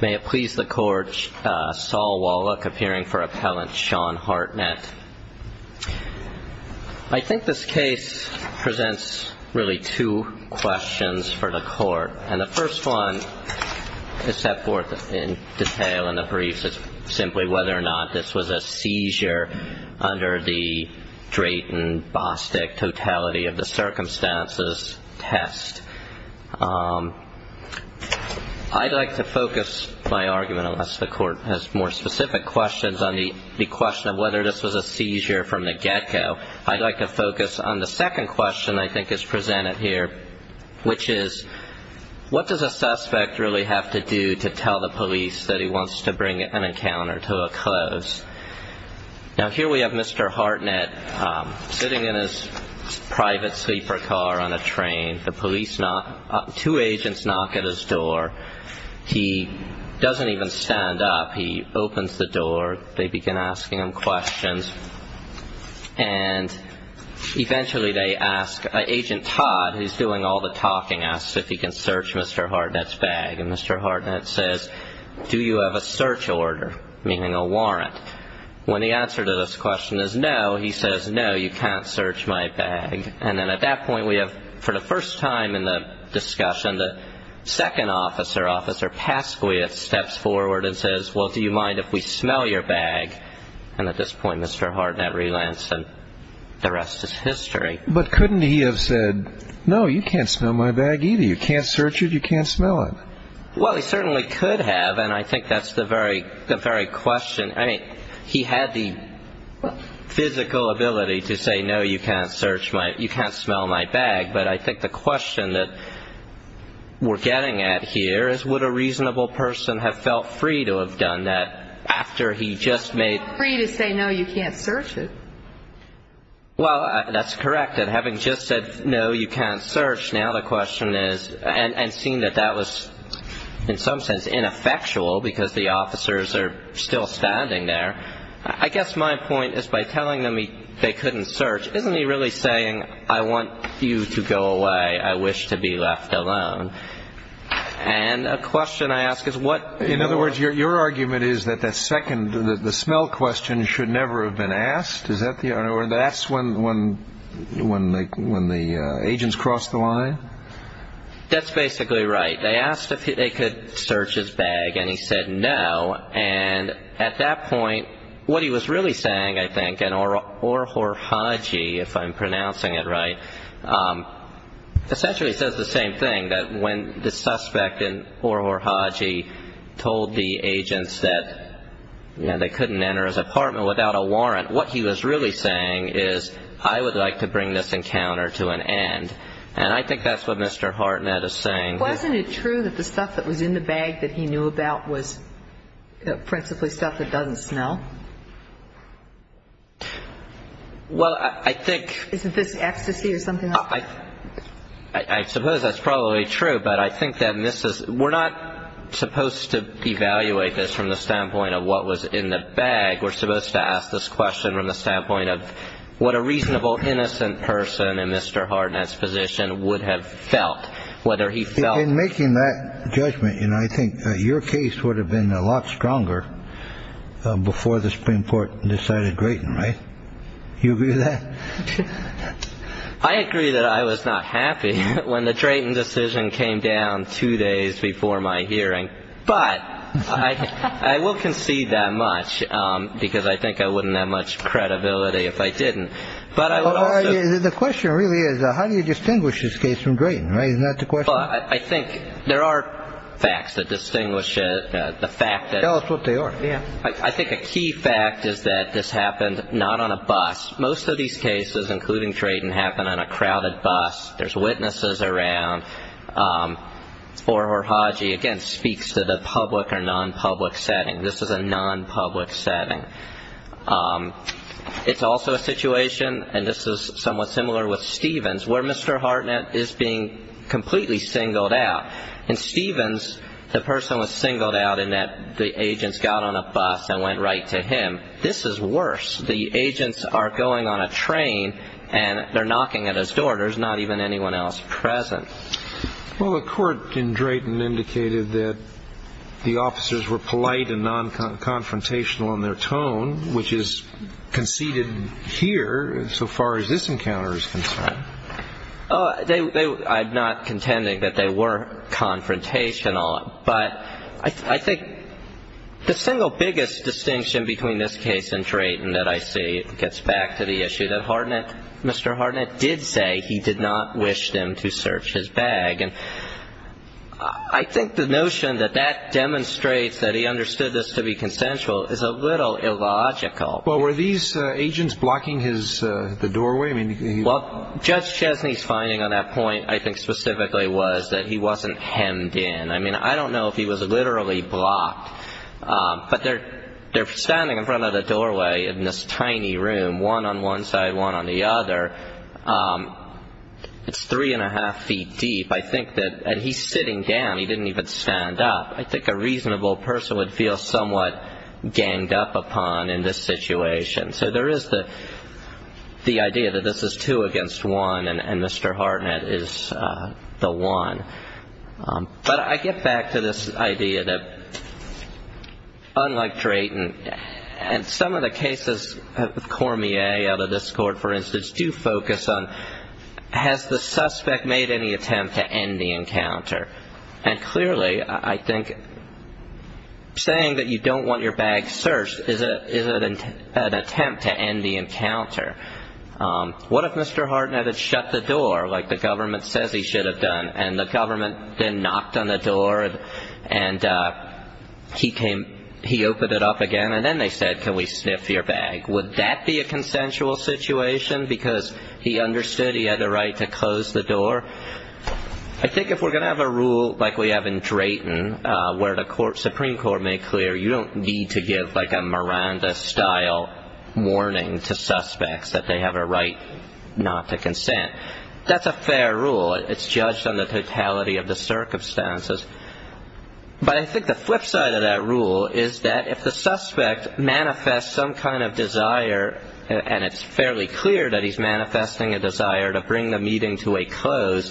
May it please the court, Saul Wallach, appearing for appellant Sean Hartnett. I think this case presents really two questions for the court. And the first one is set forth in detail in the briefs, simply whether or not this was a seizure under the Drayton-Bostick totality of the circumstances test. I'd like to focus my argument, unless the court has more specific questions, on the question of whether this was a seizure from the get-go. I'd like to focus on the second question I think is presented here, which is what does a suspect really have to do to tell the police that he wants to bring an encounter to a close? Now here we have Mr. Hartnett sitting in his private sleeper car on a train. The police knock, two agents knock at his door. He doesn't even stand up. He opens the door. They begin asking him questions. And eventually they ask Agent Todd, who's doing all the talking, asks if he can search Mr. Hartnett's bag. And Mr. Hartnett says, do you have a search order, meaning a warrant? When the answer to this question is no, he says, no, you can't search my bag. And then at that point we have, for the first time in the discussion, the second officer, Officer Pasquiat, steps forward and says, well, do you mind if we smell your bag? And at this point Mr. Hartnett relents and the rest is history. But couldn't he have said, no, you can't smell my bag either. You can't search it. You can't smell it. Well, he certainly could have, and I think that's the very question. I mean, he had the physical ability to say, no, you can't smell my bag. But I think the question that we're getting at here is, would a reasonable person have felt free to have done that after he just made – Felt free to say, no, you can't search it. Well, that's correct. And having just said, no, you can't search, now the question is – And seeing that that was in some sense ineffectual because the officers are still standing there, I guess my point is by telling them they couldn't search, isn't he really saying, I want you to go away. I wish to be left alone. And a question I ask is what – In other words, your argument is that the second – the smell question should never have been asked? Is that the – or that's when the agents cross the line? That's basically right. They asked if they could search his bag, and he said no. And at that point, what he was really saying, I think, and Orhorhaji, if I'm pronouncing it right, essentially says the same thing, that when the suspect in Orhorhaji told the agents that, you know, they couldn't enter his apartment without a warrant, what he was really saying is, I would like to bring this encounter to an end. And I think that's what Mr. Hartnett is saying. Wasn't it true that the stuff that was in the bag that he knew about was principally stuff that doesn't smell? Well, I think – Isn't this ecstasy or something like that? I suppose that's probably true, but I think that this is – we're not supposed to evaluate this from the standpoint of what was in the bag. We're supposed to ask this question from the standpoint of what a reasonable, innocent person in Mr. Hartnett's position would have felt, whether he felt – In making that judgment, you know, I think your case would have been a lot stronger before the Supreme Court decided Drayton, right? You agree with that? I agree that I was not happy when the Drayton decision came down two days before my hearing. But I will concede that much, because I think I wouldn't have much credibility if I didn't. The question really is, how do you distinguish this case from Drayton, right? Isn't that the question? I think there are facts that distinguish it. Tell us what they are. I think a key fact is that this happened not on a bus. Most of these cases, including Drayton, happen on a crowded bus. There's witnesses around. Or Horhaci, again, speaks to the public or non-public setting. This is a non-public setting. It's also a situation, and this is somewhat similar with Stevens, where Mr. Hartnett is being completely singled out. In Stevens, the person was singled out in that the agents got on a bus and went right to him. This is worse. The agents are going on a train, and they're knocking at his door. There's not even anyone else present. Well, the court in Drayton indicated that the officers were polite and non-confrontational in their tone, which is conceded here, so far as this encounter is concerned. I'm not contending that they were confrontational, but I think the single biggest distinction between this case and Drayton that I see gets back to the issue that Mr. Hartnett did say he did not wish them to search his bag. And I think the notion that that demonstrates that he understood this to be consensual is a little illogical. Well, were these agents blocking the doorway? Well, Judge Chesney's finding on that point I think specifically was that he wasn't hemmed in. I mean, I don't know if he was literally blocked, but they're standing in front of the doorway in this tiny room, one on one side, one on the other. It's three and a half feet deep, and he's sitting down. He didn't even stand up. I think a reasonable person would feel somewhat ganged up upon in this situation. So there is the idea that this is two against one, and Mr. Hartnett is the one. But I get back to this idea that unlike Drayton, and some of the cases of Cormier out of this court, for instance, do focus on has the suspect made any attempt to end the encounter. And clearly I think saying that you don't want your bag searched is an attempt to end the encounter. What if Mr. Hartnett had shut the door like the government says he should have done and the government then knocked on the door and he opened it up again, and then they said, can we sniff your bag, would that be a consensual situation because he understood he had a right to close the door? I think if we're going to have a rule like we have in Drayton where the Supreme Court made clear you don't need to give like a Miranda-style warning to suspects that they have a right not to consent. That's a fair rule. It's judged on the totality of the circumstances. But I think the flip side of that rule is that if the suspect manifests some kind of desire, and it's fairly clear that he's manifesting a desire to bring the meeting to a close,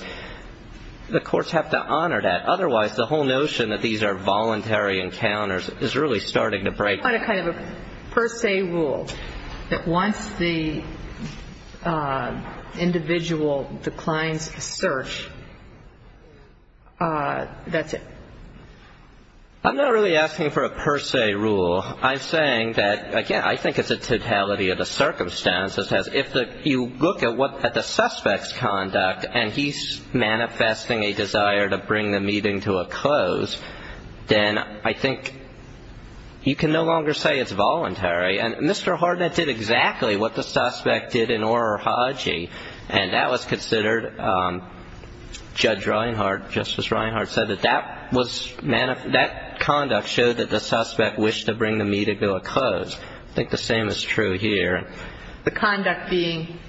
the courts have to honor that. Otherwise, the whole notion that these are voluntary encounters is really starting to break. If you put a kind of a per se rule that once the individual declines a search, that's it. I'm not really asking for a per se rule. I'm saying that, again, I think it's a totality of the circumstances. If you look at the suspect's conduct and he's manifesting a desire to bring the meeting to a close, then I think you can no longer say it's voluntary. And Mr. Hardnett did exactly what the suspect did in Orr or Hodgie, and that was considered, Judge Reinhardt, Justice Reinhardt said that that conduct showed that the suspect wished to bring the meeting to a close. I think the same is true here. The conduct being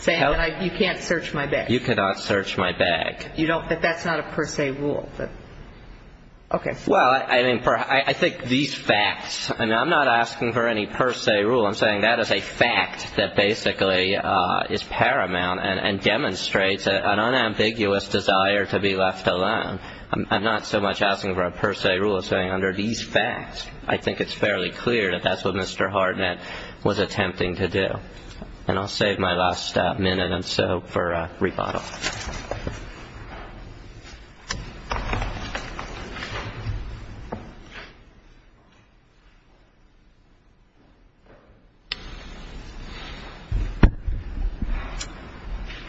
saying that you can't search my bag. You cannot search my bag. That's not a per se rule. Okay. Well, I think these facts, and I'm not asking for any per se rule. I'm saying that is a fact that basically is paramount and demonstrates an unambiguous desire to be left alone. I'm not so much asking for a per se rule as saying under these facts, I think it's fairly clear that that's what Mr. Hardnett was attempting to do. And I'll save my last minute or so for rebuttal.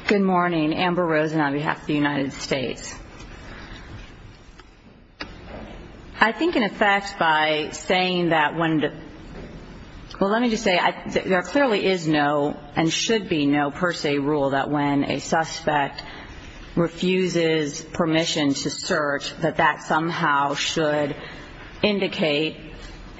Good morning. Amber Rosen on behalf of the United States. I think, in effect, by saying that when the, well, let me just say there clearly is no and should be no per se rule that when a suspect refuses permission to search, that that somehow should indicate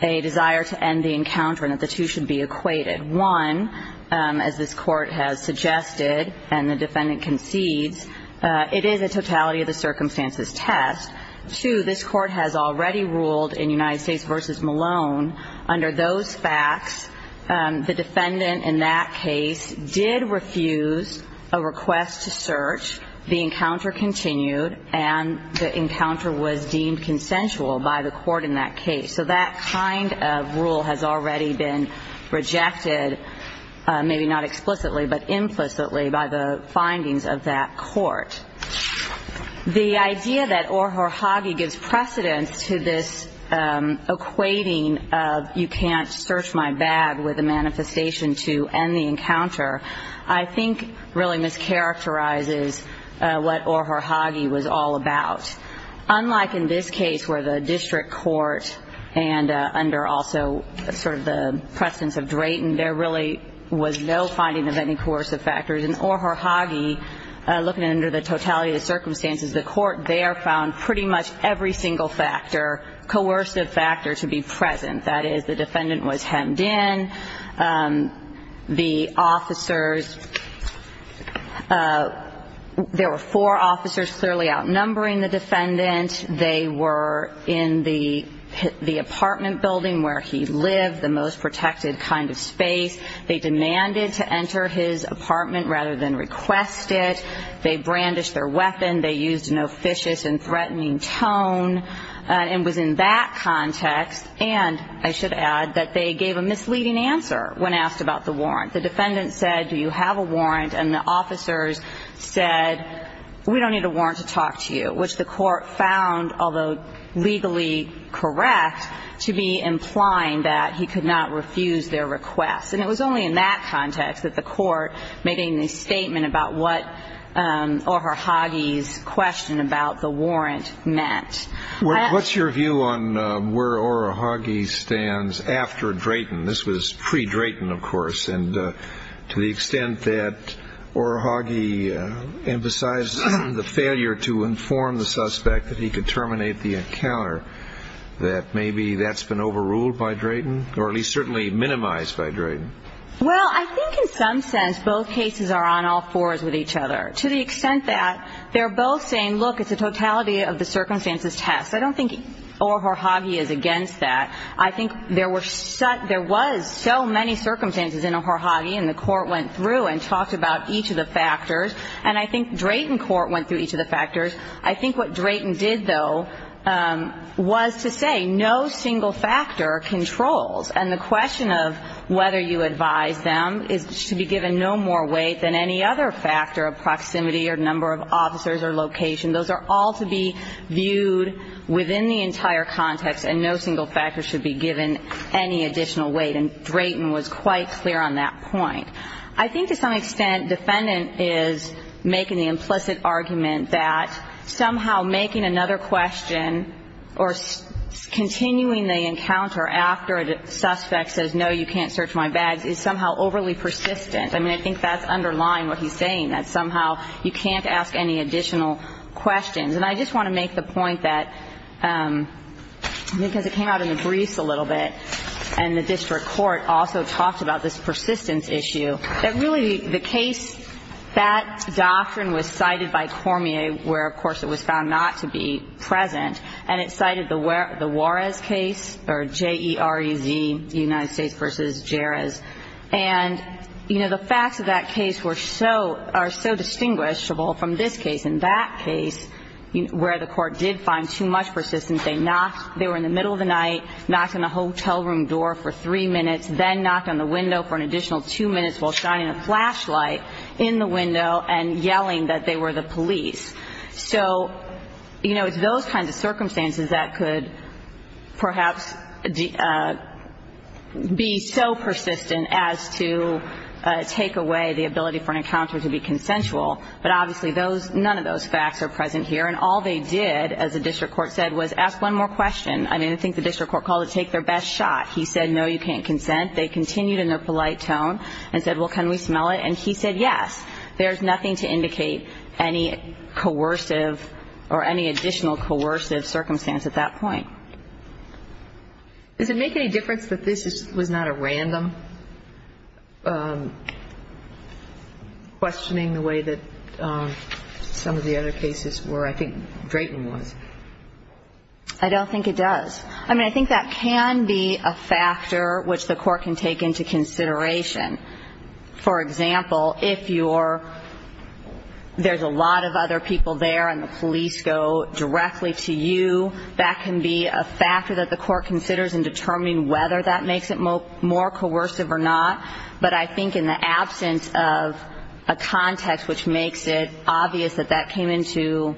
a desire to end the encounter and that the two should be equated. One, as this Court has suggested and the defendant concedes, it is a totality of the circumstances test. Two, this Court has already ruled in United States v. Malone, under those facts, the defendant in that case did refuse a request to search, the encounter continued, and the encounter was deemed consensual by the Court in that case. So that kind of rule has already been rejected, maybe not explicitly, but implicitly by the findings of that Court. The idea that Orhor Hagi gives precedence to this equating of you can't search my bag with a manifestation to end the encounter, I think really mischaracterizes what Orhor Hagi was all about. Unlike in this case where the district court and under also sort of the precedence of Drayton, there really was no finding of any coercive factors. In Orhor Hagi, looking under the totality of the circumstances, the Court there found pretty much every single factor, coercive factor, to be present. That is, the defendant was hemmed in, the officers, there were four officers clearly outnumbering the defendant. They were in the apartment building where he lived, the most protected kind of space. They demanded to enter his apartment rather than request it. They brandished their weapon. They used an officious and threatening tone, and it was in that context, and I should add that they gave a misleading answer when asked about the warrant. The defendant said, Do you have a warrant? And the officers said, We don't need a warrant to talk to you, which the Court found, although legally correct, to be implying that he could not refuse their request. And it was only in that context that the Court made a statement about what Orhor Hagi's question about the warrant meant. What's your view on where Orhor Hagi stands after Drayton? This was pre-Drayton, of course, and to the extent that Orhor Hagi emphasized the failure to inform the suspect that he could terminate the encounter, that maybe that's been overruled by Drayton, or at least certainly minimized by Drayton. Well, I think in some sense both cases are on all fours with each other, to the extent that they're both saying, Look, it's a totality of the circumstances test. I don't think Orhor Hagi is against that. I think there were so – there was so many circumstances in Orhor Hagi, and the Court went through and talked about each of the factors. And I think Drayton court went through each of the factors. I think what Drayton did, though, was to say no single factor controls. And the question of whether you advise them is to be given no more weight than any other factor of proximity or number of officers or location. Those are all to be viewed within the entire context, and no single factor should be given any additional weight. And Drayton was quite clear on that point. I think to some extent defendant is making the implicit argument that somehow making another question or continuing the encounter after a suspect says, No, you can't search my bags, is somehow overly persistent. I mean, I think that's underlying what he's saying, that somehow you can't ask any additional questions. And I just want to make the point that because it came out in the briefs a little bit and the district court also talked about this persistence issue, that really the case, that doctrine was cited by Cormier where, of course, it was found not to be present, and it cited the Juarez case or J-E-R-E-Z, United States versus Jerez. And, you know, the facts of that case were so, are so distinguishable from this case. In that case where the court did find too much persistence, they knocked, they were in the middle of the night, knocked on the hotel room door for three minutes, then knocked on the window for an additional two minutes while shining a flashlight in the window and yelling that they were the police. So, you know, it's those kinds of circumstances that could perhaps be so persistent as to take away the ability for an encounter to be consensual. But obviously those, none of those facts are present here. And all they did, as the district court said, was ask one more question. I mean, I think the district court called it take their best shot. He said, No, you can't consent. They continued in their polite tone and said, Well, can we smell it? And he said, Yes. There's nothing to indicate any coercive or any additional coercive circumstance at that point. Does it make any difference that this was not a random questioning the way that some of the other cases were? I think Drayton was. I don't think it does. I mean, I think that can be a factor which the court can take into consideration. For example, if you're, there's a lot of other people there and the police go directly to you, that can be a factor that the court considers in determining whether that makes it more coercive or not. But I think in the absence of a context which makes it obvious that that came into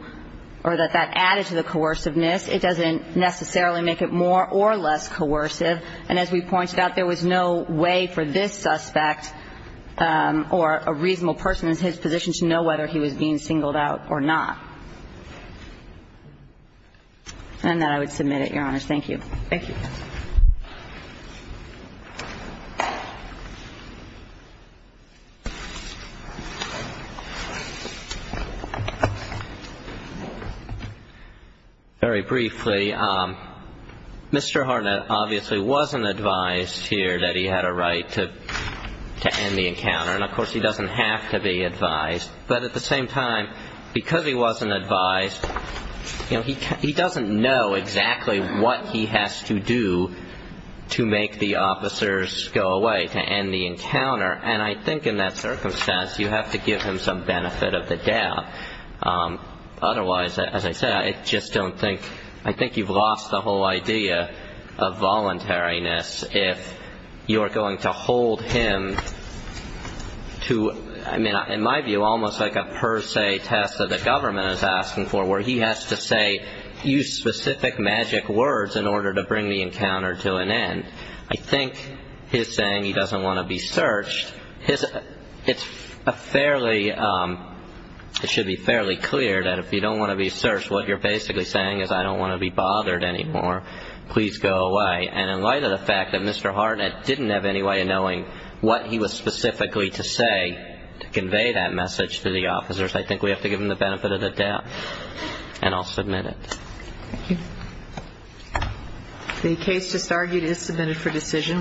or that that added to the coerciveness, it doesn't necessarily make it more or less coercive. And as we pointed out, there was no way for this suspect or a reasonable person in his position to know whether he was being singled out or not. And on that, I would submit it, Your Honors. Thank you. Thank you. Very briefly, Mr. Harnett obviously wasn't advised here that he had a right to end the encounter. And, of course, he doesn't have to be advised. But at the same time, because he wasn't advised, you know, he doesn't know exactly what he has to do to make the officers go away, to end the encounter. And I think in that circumstance, you have to give him some benefit of the doubt. Otherwise, as I said, I just don't think, I think you've lost the whole idea of voluntariness if you're going to hold him to, I mean, in my view, almost like a per se test that the government is asking for, where he has to say, use specific magic words in order to bring the encounter to an end. I think his saying he doesn't want to be searched, it's a fairly, it should be fairly clear that if you don't want to be searched, what you're basically saying is I don't want to be bothered anymore. Please go away. And in light of the fact that Mr. Harnett didn't have any way of knowing what he was specifically to say to convey that message to the officers, I think we have to give him the benefit of the doubt. And I'll submit it. Thank you. The case just argued is submitted for decision.